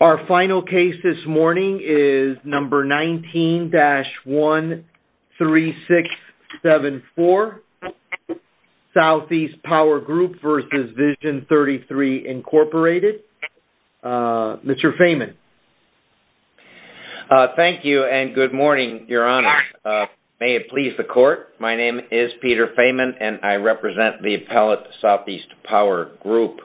Our final case this morning is number 19-13674, Southeast Power Group v. Vision 33, Inc. Mr. Feynman. Thank you and good morning, Your Honor. May it please the Court, my name is Peter Feynman and I represent the appellate Southeast Power Group.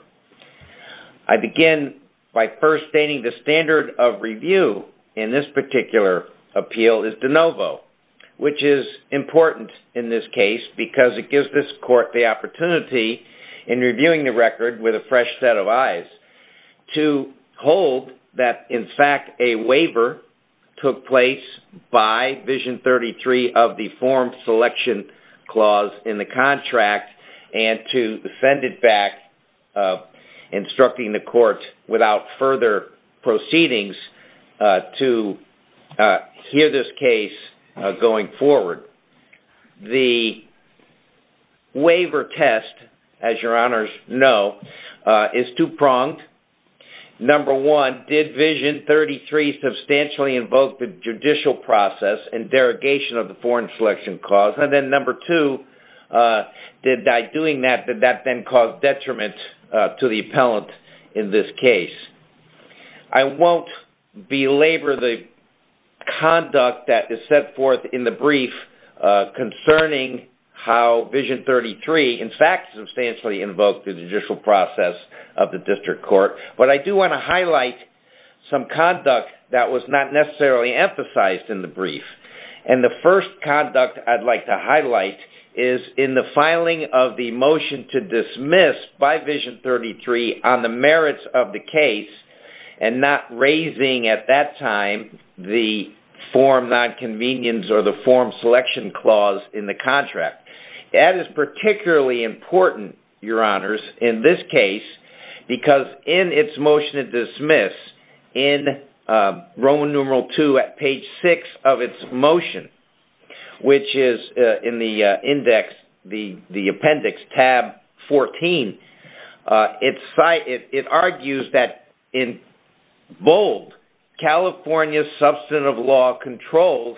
I begin by first stating the standard of review in this particular appeal is de novo, which is important in this case because it gives this Court the opportunity in reviewing the record with a fresh set of eyes to hold that, in fact, a waiver took place by Vision 33 of the form selection clause in the contract and to send it back instructing the Court without further proceedings to hear this case going forward. The waiver test, as Your Honors know, is two-pronged. Number one, did Vision 33 substantially invoke the judicial process and derogation of the foreign selection clause? And then number two, did by doing that, did that then cause detriment to the appellant in this case? I won't belabor the conduct that is set forth in the brief concerning how Vision 33, in the judicial process of the District Court, but I do want to highlight some conduct that was not necessarily emphasized in the brief. And the first conduct I'd like to highlight is in the filing of the motion to dismiss by Vision 33 on the merits of the case and not raising at that time the form nonconvenience or the form selection clause in the contract. That is particularly important, Your Honors, in this case because in its motion to dismiss, in Roman numeral two at page six of its motion, which is in the appendix, tab 14, it argues that in bold, California's substantive law controls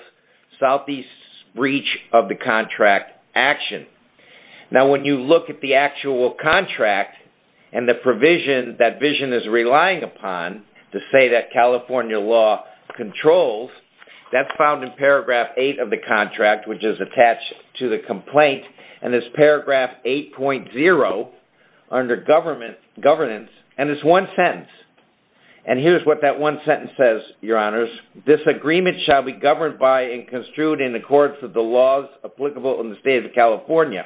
Southeast's breach of the contract action. Now, when you look at the actual contract and the provision that Vision is relying upon to say that California law controls, that's found in paragraph eight of the contract, which is attached to the complaint, and it's paragraph 8.0 under governance, and it's one sentence. And here's what that one sentence says, Your Honors, this agreement shall be governed by and construed in the courts of the laws applicable in the state of California,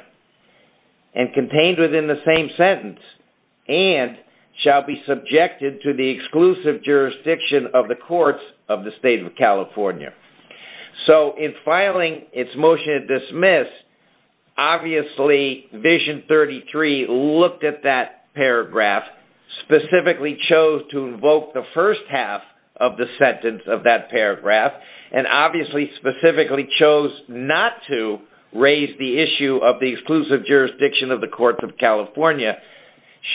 and contained within the same sentence, and shall be subjected to the exclusive jurisdiction of the courts of the state of California. So in filing its motion to dismiss, obviously Vision 33 looked at that paragraph specifically chose to invoke the first half of the sentence of that paragraph, and obviously specifically chose not to raise the issue of the exclusive jurisdiction of the courts of California,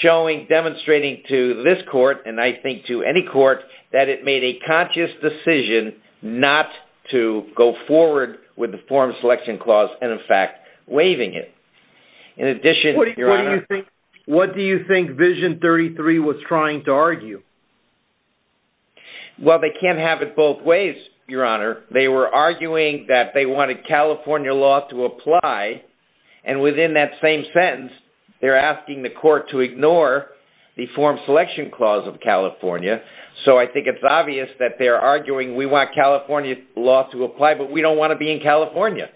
showing, demonstrating to this court, and I think to any court, that it made a conscious decision not to go forward with the form selection clause, and in fact, waiving it. In addition, Your Honor... What do you think Vision 33 was trying to argue? Well, they can't have it both ways, Your Honor. They were arguing that they wanted California law to apply, and within that same sentence, they're asking the court to ignore the form selection clause of California. So I think it's obvious that they're arguing we want California law to apply, but we don't want to be in California.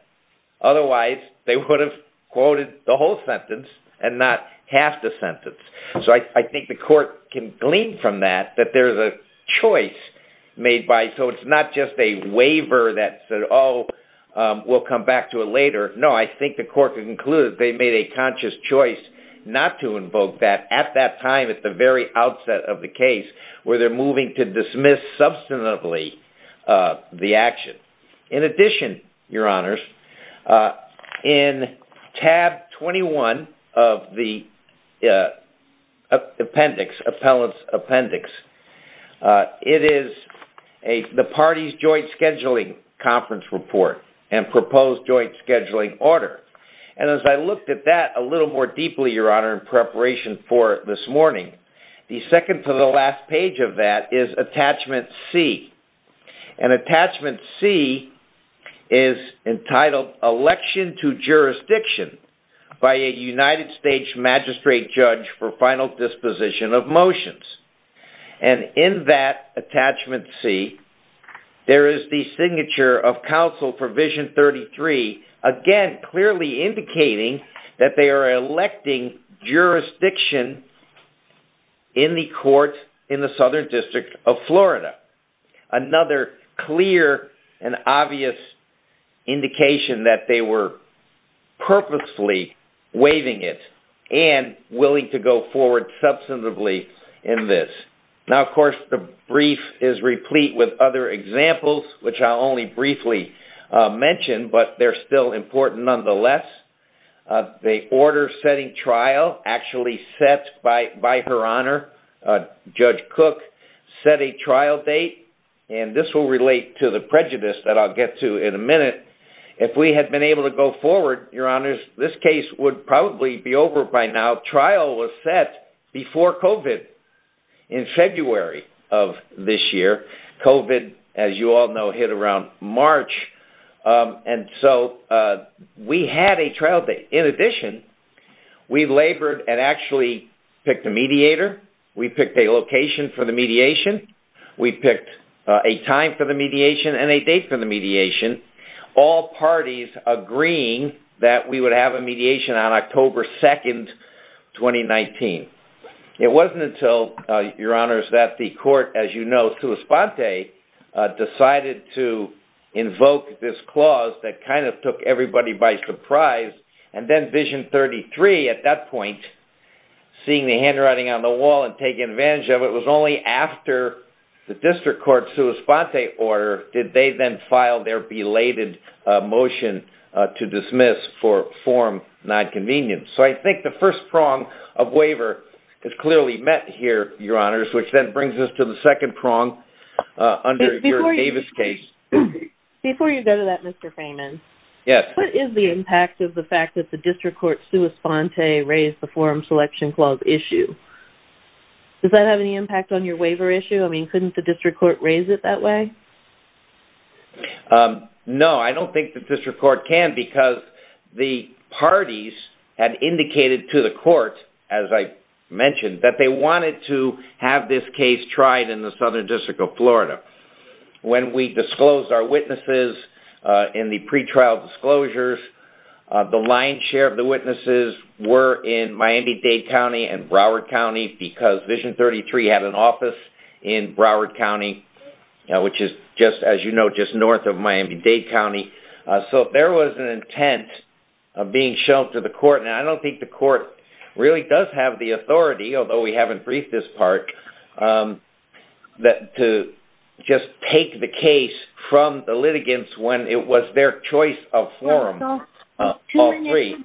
Otherwise, they would have quoted the whole sentence, and not half the sentence. So I think the court can glean from that that there's a choice made by, so it's not just a waiver that said, oh, we'll come back to it later. No, I think the court can conclude that they made a conscious choice not to invoke that at that time, at the very outset of the case, where they're moving to dismiss substantively the action. In addition, Your Honors, in tab 21 of the appellate's appendix, it is the party's joint scheduling conference report and proposed joint scheduling order. And as I looked at that a little more deeply, Your Honor, in preparation for this morning, the second to the last page of that is attachment C. And attachment C is entitled Election to Jurisdiction by a United States magistrate judge for final disposition of motions. And in that attachment C, there is the signature of counsel for Vision 33, again, clearly indicating that they are electing jurisdiction in the court in the Southern District of Florida. Another clear and obvious indication that they were purposely waiving it and willing to go forward substantively in this. Now, of course, the brief is replete with other examples, which I'll only briefly mention, but they're still important nonetheless. The order setting trial actually set by Her Honor, Judge Cook, set a trial date. And this will relate to the prejudice that I'll get to in a minute. If we had been able to go forward, Your Honors, this case would probably be over by now. Trial was set before COVID in February of this year. COVID, as you all know, hit around March. And so we had a trial date. In addition, we labored and actually picked a mediator. We picked a location for the mediation. We picked a time for the mediation and a date for the mediation. All parties agreeing that we would have a mediation on October 2nd, 2019. It wasn't until, Your Honors, that the court, as you know, Suis Ponte decided to invoke this clause that kind of took everybody by surprise. And then Vision 33, at that point, seeing the handwriting on the wall and taking advantage of it, was only after the district court Suis Ponte order did they then file their belated motion to dismiss for form nonconvenience. So I think the first prong of waiver is clearly met here, Your Honors, which then brings us to the second prong under your Davis case. Before you go to that, Mr. Freeman, what is the impact of the fact that the district court Suis Ponte raised the forum selection clause issue? Does that have any impact on your waiver issue? I mean, couldn't the district court raise it that way? No, I don't think the district court can because the parties had indicated to the court, as I mentioned, that they wanted to have this case tried in the Southern District of Florida. When we disclosed our witnesses in the pretrial disclosures, the lion's share of the witnesses were in Miami-Dade County and Broward County because Vision 33 had an office in Broward County, which is, as you know, just north of Miami-Dade County. So there was an intent of being shown to the court. Now, I don't think the court really does have the authority, although we haven't briefed this part, to just take the case from the litigants when it was their choice of forum. All three.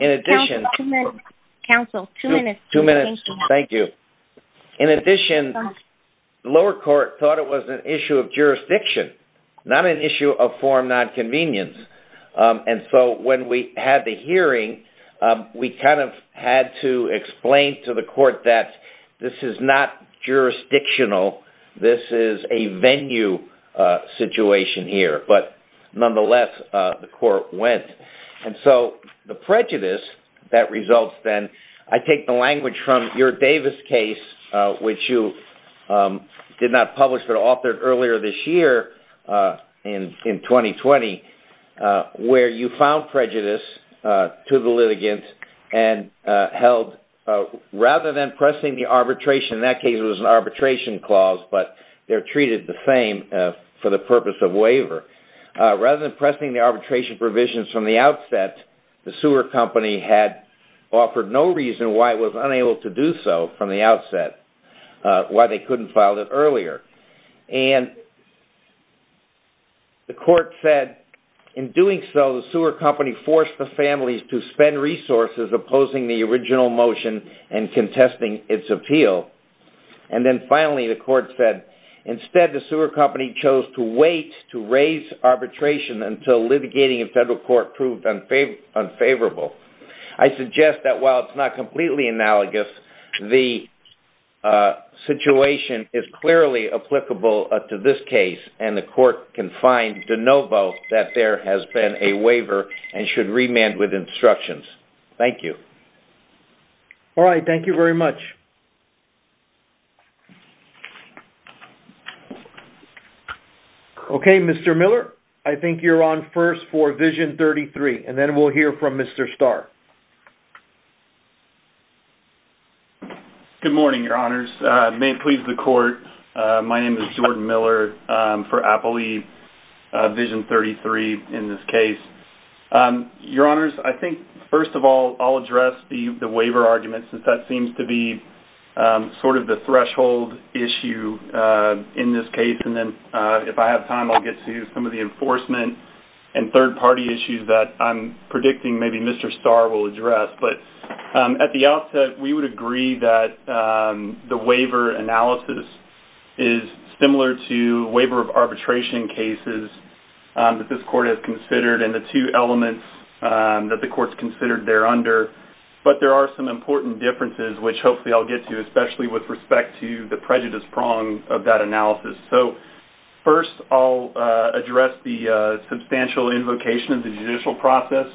In addition... Counsel, two minutes. Two minutes. Thank you. In addition, the lower court thought it was an issue of jurisdiction, not an issue of forum nonconvenience. And so when we had the hearing, we kind of had to explain to the court that this is not jurisdictional. This is a venue situation here. But nonetheless, the court went. And so the prejudice that results then... I take the language from your Davis case, which you did not publish but authored earlier this year in 2020, where you found prejudice to the litigants and held... Rather than pressing the arbitration, in that case it was an arbitration clause, but they're treated the same for the purpose of waiver. Rather than pressing the arbitration provisions from the outset, the sewer company had offered no reason why it was unable to do so from the outset, why they couldn't file it earlier. And the court said, in doing so, the sewer company forced the families to spend resources opposing the original motion and contesting its appeal. And then finally, the court said, instead, the sewer company chose to wait to raise arbitration until litigating in federal court proved unfavorable. I suggest that while it's not completely analogous, the situation is clearly applicable to this case, and the court can find de novo that there has been a waiver and should remand with instructions. Thank you. All right, thank you very much. Okay, Mr. Miller, I think you're on first for Vision 33, and then we'll hear from Mr. Starr. Good morning, Your Honors. May it please the court, my name is Jordan Miller for Applely Vision 33 in this case. Your Honors, I think, first of all, I'll address the waiver argument since that seems to be sort of a general argument. Sort of the threshold issue in this case, and then if I have time, I'll get to some of the enforcement and third-party issues that I'm predicting maybe Mr. Starr will address. But at the outset, we would agree that the waiver analysis is similar to waiver of arbitration cases that this court has considered, and the two elements that the court's considered there under. But there are some important differences, which hopefully I'll get to, especially with respect to the prejudice prong of that analysis. So first, I'll address the substantial invocation of the judicial process.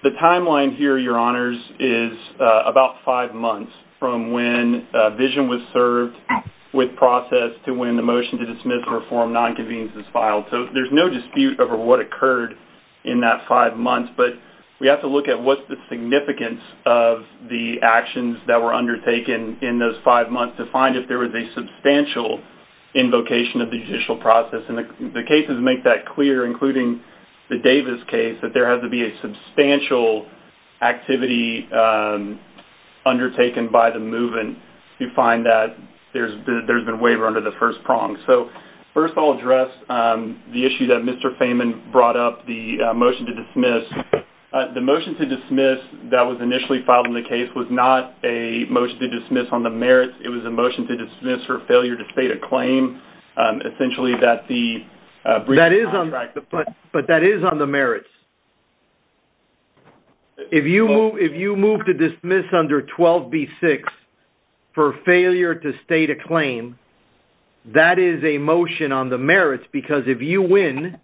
The timeline here, Your Honors, is about five months from when Vision was served with process to when the motion to dismiss the reform nonconvenience was filed. So there's no dispute over what occurred in that five months, but we have to look at what's the significance of the actions that were undertaken in those five months to find if there was a substantial invocation of the judicial process. And the cases make that clear, including the Davis case, that there had to be a substantial activity undertaken by the movement to find that there's been a waiver under the first prong. So first, I'll address the issue that Mr. Fehman brought up, the motion to dismiss. The motion to dismiss that was initially filed in the case was not a motion to dismiss on the merits. It was a motion to dismiss for failure to state a claim, essentially that the breach of contract... That is on... But that is on the merits. If you move to dismiss under 12B6 for failure to state a claim, that is a motion on the merits, because if you win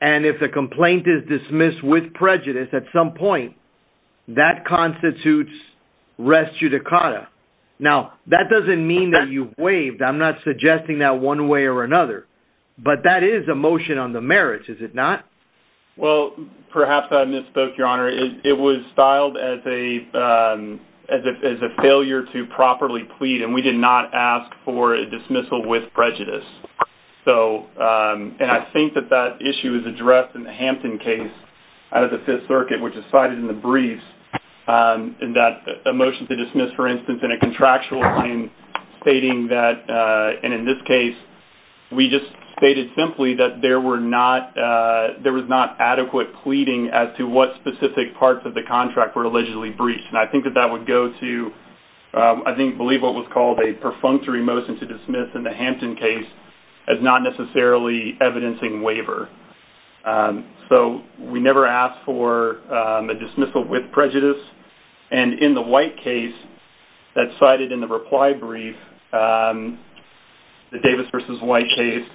and if the complaint is dismissed with prejudice at some point, that constitutes res judicata. Now, that doesn't mean that you've waived. I'm not suggesting that one way or another. But that is a motion on the merits, is it not? Well, perhaps I misspoke, Your Honour. It was styled as a failure to properly plead, and we did not ask for a dismissal with prejudice. So... And I think that that issue is addressed in the Hampton case out of the Fifth Circuit, which is cited in the briefs, in that a motion to dismiss, for instance, in a contractual claim, stating that... And in this case, we just stated simply that there was not adequate pleading as to what specific parts of the contract were allegedly breached. And I think that that would go to, I believe what was called a perfunctory motion to dismiss in the Hampton case as not necessarily evidencing waiver. So, we never asked for a dismissal with prejudice. And in the White case that's cited in the reply brief, the Davis v White case,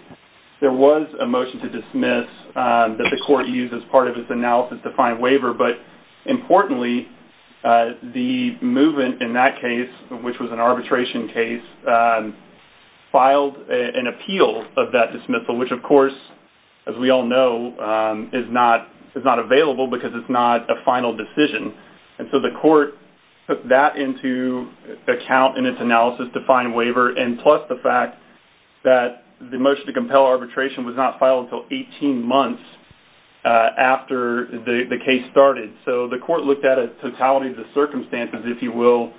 there was a motion to dismiss that the court used as part of its analysis to find waiver, but, importantly, the movement in that case, which was an arbitration case, filed an appeal of that dismissal, which, of course, as we all know, is not available because it's not a final decision. And so the court took that into account in its analysis to find waiver, and plus the fact that the motion to compel arbitration was not filed until 18 months after the case started. So, the court looked at a totality of the circumstances, if you will,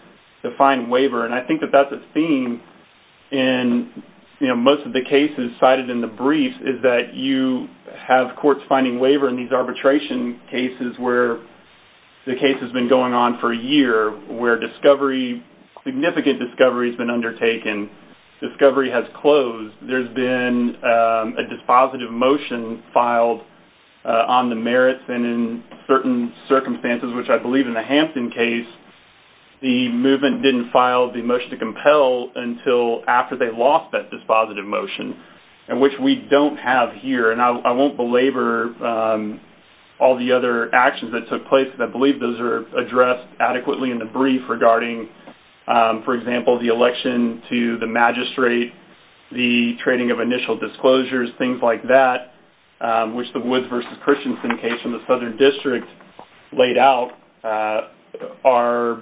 to find waiver, and I think that that's a theme in most of the cases cited in the brief, is that you have courts finding waiver in these arbitration cases where the case has been going on for a year, where discovery, significant discovery has been undertaken, discovery has closed, there's been a dispositive motion filed on the merits, and in certain circumstances, which I believe in the Hampton case, the movement didn't file the motion to compel until after they lost that dispositive motion, and which we don't have here, and I won't belabor all the other actions that took place, but I believe those are addressed adequately in the brief regarding, for example, the election to the magistrate, the trading of initial disclosures, things like that, which the Woods v. Christensen case in the Southern District laid out are,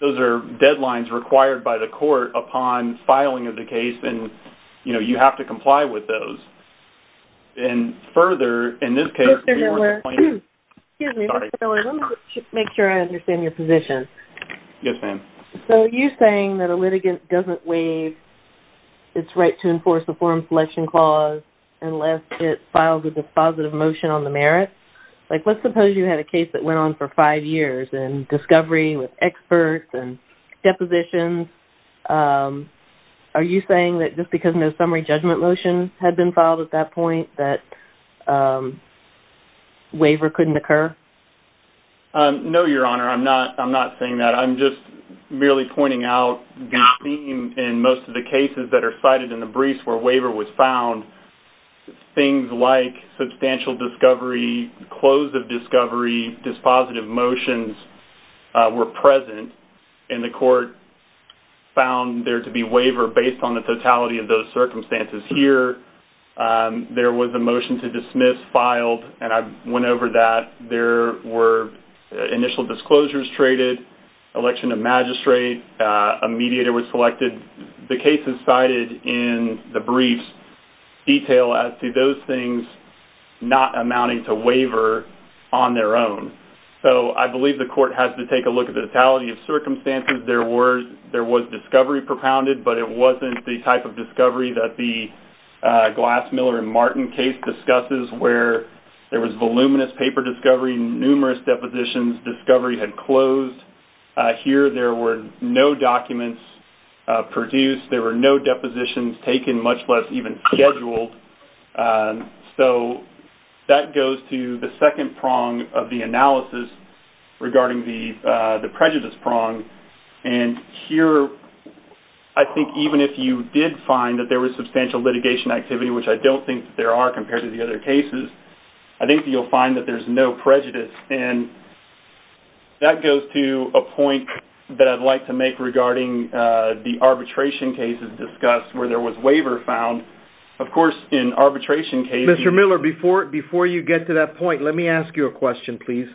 those are deadlines required by the court upon filing of the case, and, you know, you have to comply with those, and further, in this case, we weren't complaining. Excuse me, Mr. Miller, let me make sure I understand your position. Yes, ma'am. So you're saying that a litigant doesn't waive its right to enforce a forum selection clause unless it files a dispositive motion on the merit? Like, let's suppose you had a case that went on for five years and discovery with experts and depositions. Are you saying that just because no summary judgment motion had been filed at that point that waiver couldn't occur? No, Your Honor, I'm not saying that. I'm just merely pointing out the theme in most of the cases that are cited in the briefs where waiver was found, things like substantial discovery, close of discovery, dispositive motions were present, and the court found there to be waiver based on the totality of those circumstances. Here, there was a motion to dismiss filed, and I went over that. There were initial disclosures traded, election of magistrate, a mediator was selected. The cases cited in the briefs detail as to those things not amounting to waiver on their own. So I believe the court has to take a look at the totality of circumstances. There was discovery propounded, but it wasn't the type of discovery that the Glass, Miller, and Martin case discusses, where there was voluminous paper discovery, numerous depositions, discovery had closed. Here, there were no documents produced. There were no depositions taken, much less even scheduled. So that goes to the second prong of the analysis regarding the prejudice prong. And here, I think even if you did find that there was substantial litigation activity, which I don't think there are compared to the other cases, I think you'll find that there's no prejudice. And that goes to a point that I'd like to make regarding the arbitration cases discussed, where there was waiver found. Of course, in arbitration cases- Mr. Miller, before you get to that point, let me ask you a question, please.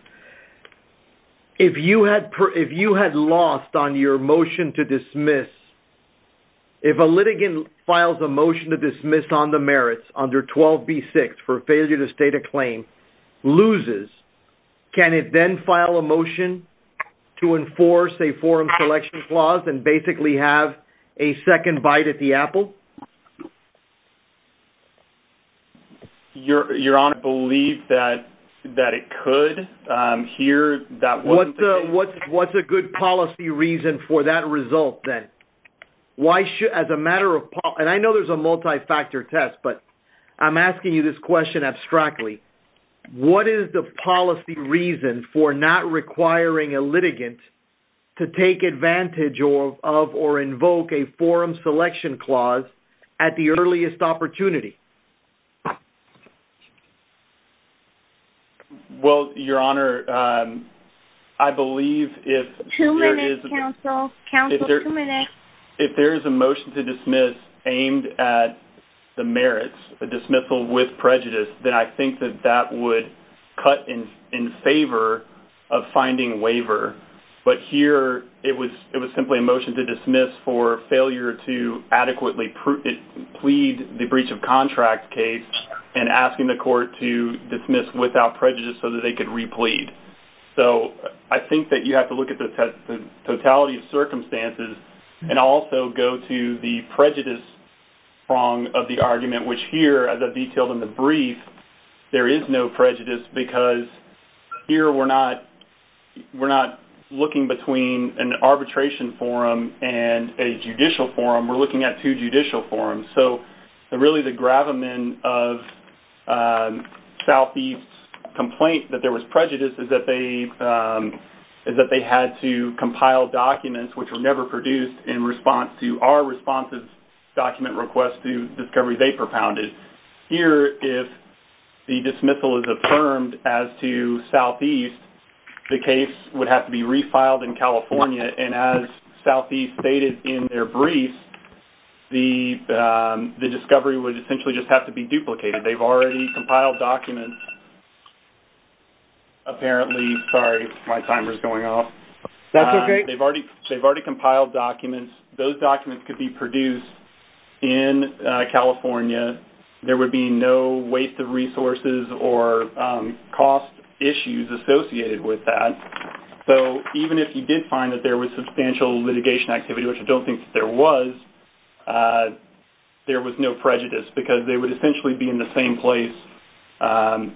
If you had lost on your motion to dismiss, if a litigant files a motion to dismiss on the merits under 12B6 for failure to state a claim, loses, can it then file a motion to enforce a forum selection clause and basically have a second bite at the apple? Your Honor, I believe that it could. Here, that wasn't the case. What's a good policy reason for that result, then? Why should, as a matter of, and I know there's a multi-factor test, but I'm asking you this question abstractly. What is the policy reason for not requiring a litigant to take advantage of or invoke a forum selection clause at the earliest opportunity? Well, Your Honor, I believe if- Two minutes, counsel. Counsel, two minutes. If there is a motion to dismiss aimed at the merits, a dismissal with prejudice, then I think that that would cut in favor of finding waiver. But here, it was simply a motion to dismiss for failure to adequately plead the breach of contract case and asking the court to dismiss without prejudice so that they could replead. So I think that you have to look at the totality of circumstances and also go to the prejudice prong of the argument, which here, as I detailed in the brief, there is no prejudice because here, we're not looking between an arbitration forum and a judicial forum. We're looking at two judicial forums. So really, the gravamen of Southeast's complaint that there was prejudice is that they had to compile documents which were never produced in response to our responsive document request to discovery they propounded. Here, if the dismissal is affirmed as to Southeast, the case would have to be refiled in California. And as Southeast stated in their brief, the discovery would essentially just have to be duplicated. They've already compiled documents. Apparently, sorry, my timer's going off. That's okay. They've already compiled documents. Those documents could be produced in California. There would be no waste of resources or cost issues associated with that. So even if you did find that there was substantial litigation activity, which I don't think there was, there was no prejudice because they would essentially be in the same place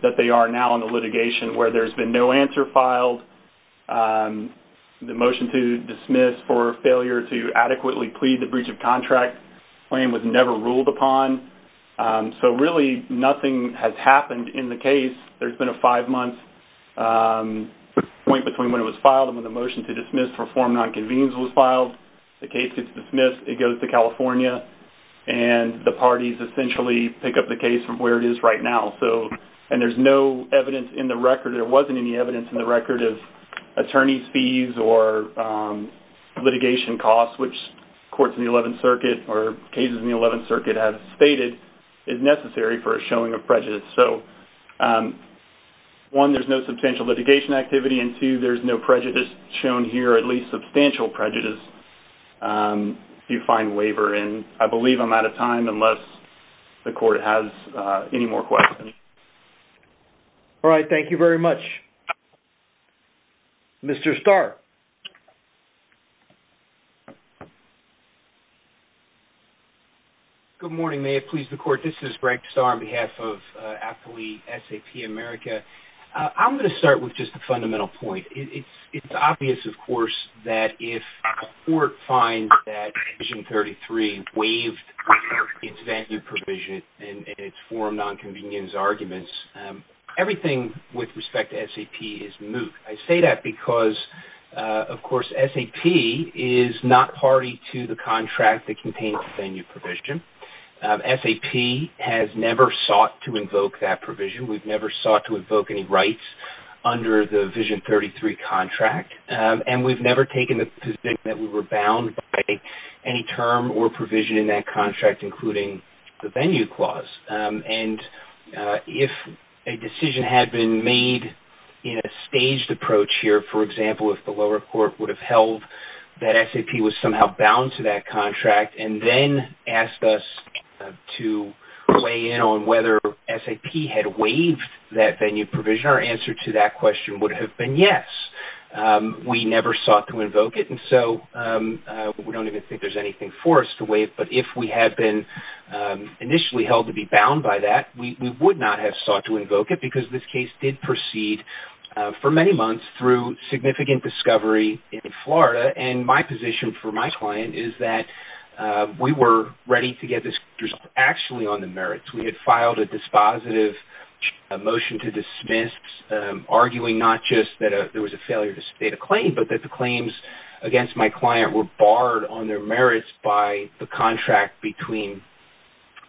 that they are now in the litigation where there's been no answer filed. The motion to dismiss for failure to adequately plead the breach of contract claim was never ruled upon. So really, nothing has happened in the case. There's been a five-month point between when it was filed and when the motion to dismiss for form nonconvenience was filed. The case gets dismissed. It goes to California. And the parties essentially pick up the case from where it is right now. And there's no evidence in the record. There wasn't any evidence in the record of attorney's fees or litigation costs, which courts in the 11th Circuit or cases in the 11th Circuit have stated is necessary for a showing of prejudice. So one, there's no substantial litigation activity. And two, there's no prejudice shown here, at least substantial prejudice if you find waiver and I believe I'm out of time unless the court has any more questions. All right, thank you very much. Mr. Starr. Good morning. May it please the court. This is Greg Starr on behalf of Appley SAP America. I'm gonna start with just a fundamental point. It's obvious, of course, that if a court finds that Vision 33 waived its venue provision and it formed nonconvenience arguments, everything with respect to SAP is moot. I say that because, of course, SAP is not party to the contract that contains the venue provision. SAP has never sought to invoke that provision. We've never sought to invoke any rights under the Vision 33 contract. And we've never taken the position that we were bound by any term or provision in that contract, including the venue clause. And if a decision had been made in a staged approach here, for example, if the lower court would have held that SAP was somehow bound to that contract and then asked us to weigh in on whether SAP had waived that venue provision, our answer to that question would have been yes. We never sought to invoke it. And so we don't even think there's anything for us to waive. But if we had been initially held to be bound by that, we would not have sought to invoke it because this case did proceed for many months through significant discovery in Florida. And my position for my client is that we were ready to get this result actually on the merits. We had filed a dispositive motion to dismiss, arguing not just that there was a failure to state a claim, but that the claims against my client were barred on their merits by the contract between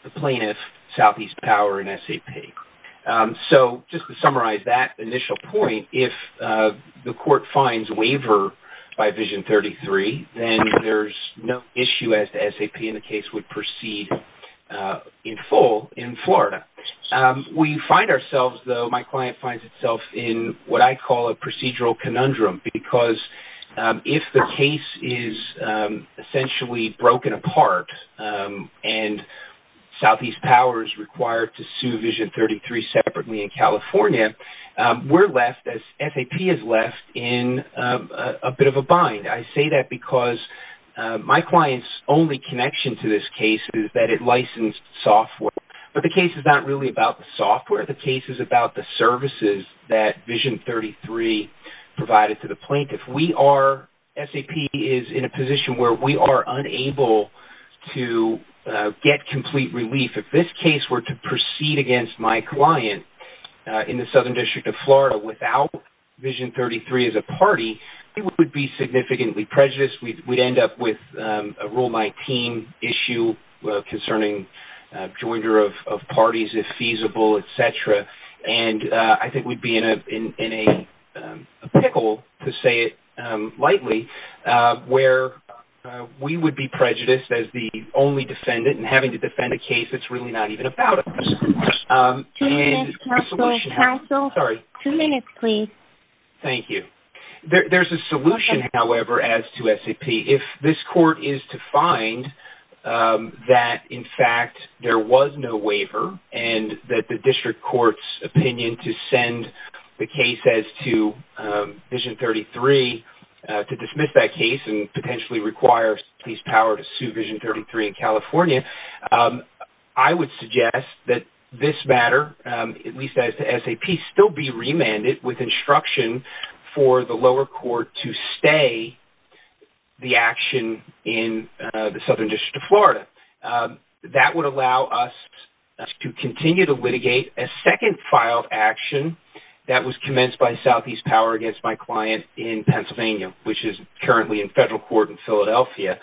the plaintiff, Southeast Power, and SAP. So just to summarize that initial point, if the court finds waiver by Vision 33, then there's no issue as to SAP and the case would proceed in full in Florida. We find ourselves though, my client finds itself in what I call a procedural conundrum because if the case is essentially broken apart and Southeast Power is required to sue Vision 33 separately in California, we're left as SAP is left in a bit of a bind. I say that because my client's only connection to this case is that it licensed software, but the case is not really about the software. The case is about the services that Vision 33 provided to the plaintiff. We are, SAP is in a position where we are unable to get complete relief. If this case were to proceed against my client in the Southern District of Florida without Vision 33 as a party, it would be significantly prejudiced. We'd end up with a rule by team issue concerning joinder of parties, if feasible, et cetera. And I think we'd be in a pickle, to say it lightly, where we would be prejudiced as the only defendant and having to defend a case that's really not even about us. Two minutes, counsel, counsel. Sorry. Two minutes, please. Thank you. There's a solution, however, as to SAP. If this court is to find that, in fact, there was no waiver and that the district court's opinion to send the case as to Vision 33 to dismiss that case and potentially require police power to sue Vision 33 in California, I would suggest that this matter, at least as to SAP, still be remanded with instruction for the lower court to stay the action in the Southern District of Florida. That would allow us to continue to litigate a second filed action that was commenced by Southeast Power against my client in Pennsylvania, which is currently in federal court in Philadelphia,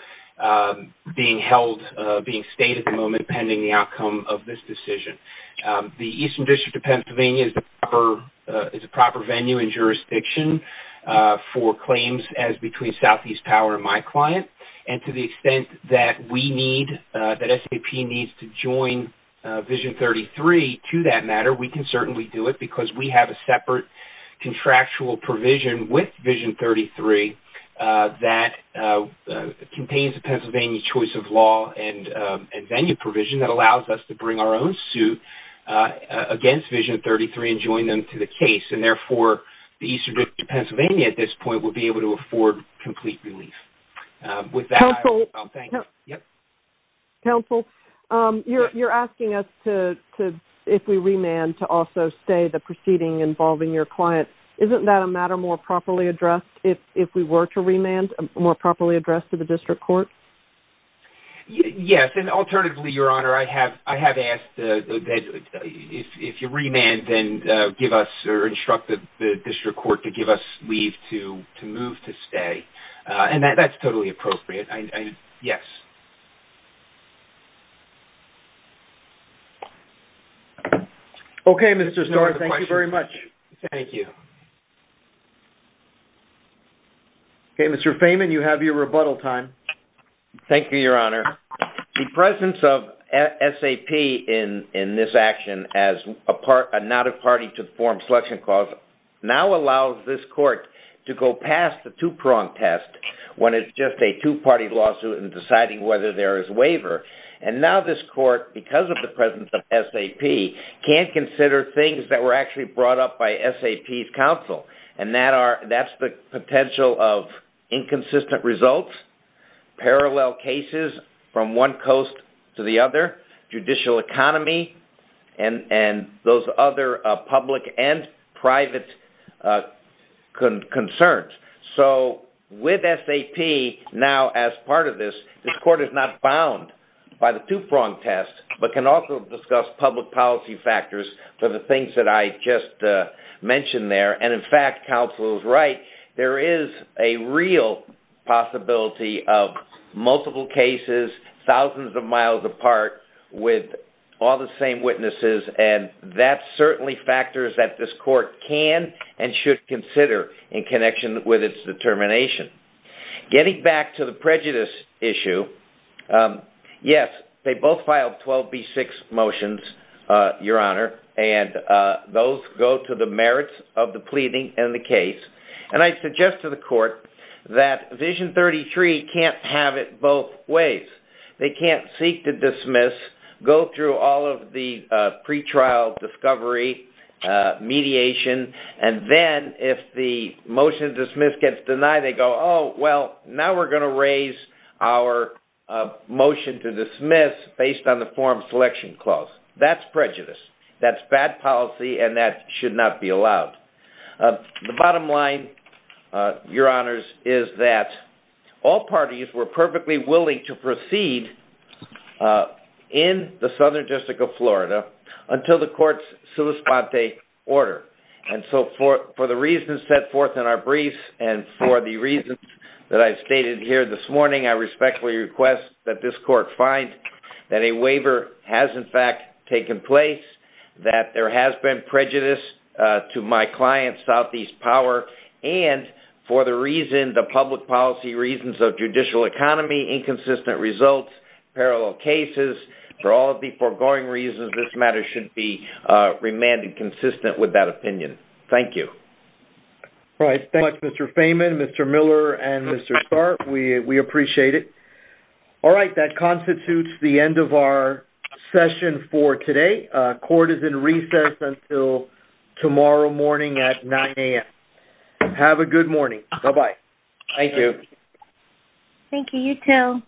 being held, being stayed at the moment pending the outcome of this decision. The Eastern District of Pennsylvania is a proper venue and jurisdiction for claims as between Southeast Power and my client. And to the extent that we need, that SAP needs to join Vision 33 to that matter, we can certainly do it because we have a separate contractual provision with Vision 33 that contains the Pennsylvania choice of law and venue provision that allows us to bring our own suit against Vision 33 and join them to the case. And therefore, the Eastern District of Pennsylvania at this point will be able to afford complete relief. With that, I'll thank you. Counsel, you're asking us to, if we remand to also stay the proceeding involving your client, isn't that a matter more properly addressed if we were to remand more properly addressed to the district court? Yes, and alternatively, Your Honor, I have asked that if you remand, then give us or instruct the district court to give us leave to move to stay. And that's totally appropriate, yes. Okay, Mr. Starr, thank you very much. Thank you. Okay, Mr. Feyman, you have your rebuttal time. Thank you, Your Honor. The presence of SAP in this action as a not a party to the forum selection clause now allows this court to go past the two-prong test when it's just a two-party lawsuit in deciding whether there is waiver. And now this court, because of the presence of SAP, can't consider things that were actually brought up by SAP's counsel. And that's the potential of inconsistent results, parallel cases from one coast to the other, judicial economy, and those other public and private concerns. So with SAP now as part of this, this court is not bound by the two-prong test, but can also discuss public policy factors for the things that I just mentioned there. And in fact, counsel is right. There is a real possibility of multiple cases, thousands of miles apart with all the same witnesses. And that certainly factors that this court can and should consider in connection with its determination. Getting back to the prejudice issue, yes, they both filed 12B6 motions, Your Honor, and those go to the merits of the pleading and the case. And I suggest to the court that Vision 33 can't have it both ways. They can't seek to dismiss, go through all of the pretrial discovery, mediation, and then if the motion to dismiss gets denied, they go, oh, well, now we're gonna raise our motion to dismiss based on the form selection clause. That's prejudice, that's bad policy, and that should not be allowed. The bottom line, Your Honors, is that all parties were perfectly willing to proceed in the Southern District of Florida until the court's solis ponte order. And so for the reasons set forth in our briefs and for the reasons that I've stated here this morning, I respectfully request that this court find that a waiver has in fact taken place, that there has been prejudice to my client Southeast Power, and for the reason, the public policy reasons of judicial economy, inconsistent results, parallel cases, for all of the foregoing reasons, this matter should be remanded consistent with that opinion, thank you. All right, thank you, Mr. Fahman, Mr. Miller, and Mr. Starr, we appreciate it. All right, that constitutes the end of our session for today, court is in recess until tomorrow morning at 9 a.m. Have a good morning, bye-bye. Thank you. Thank you, you too.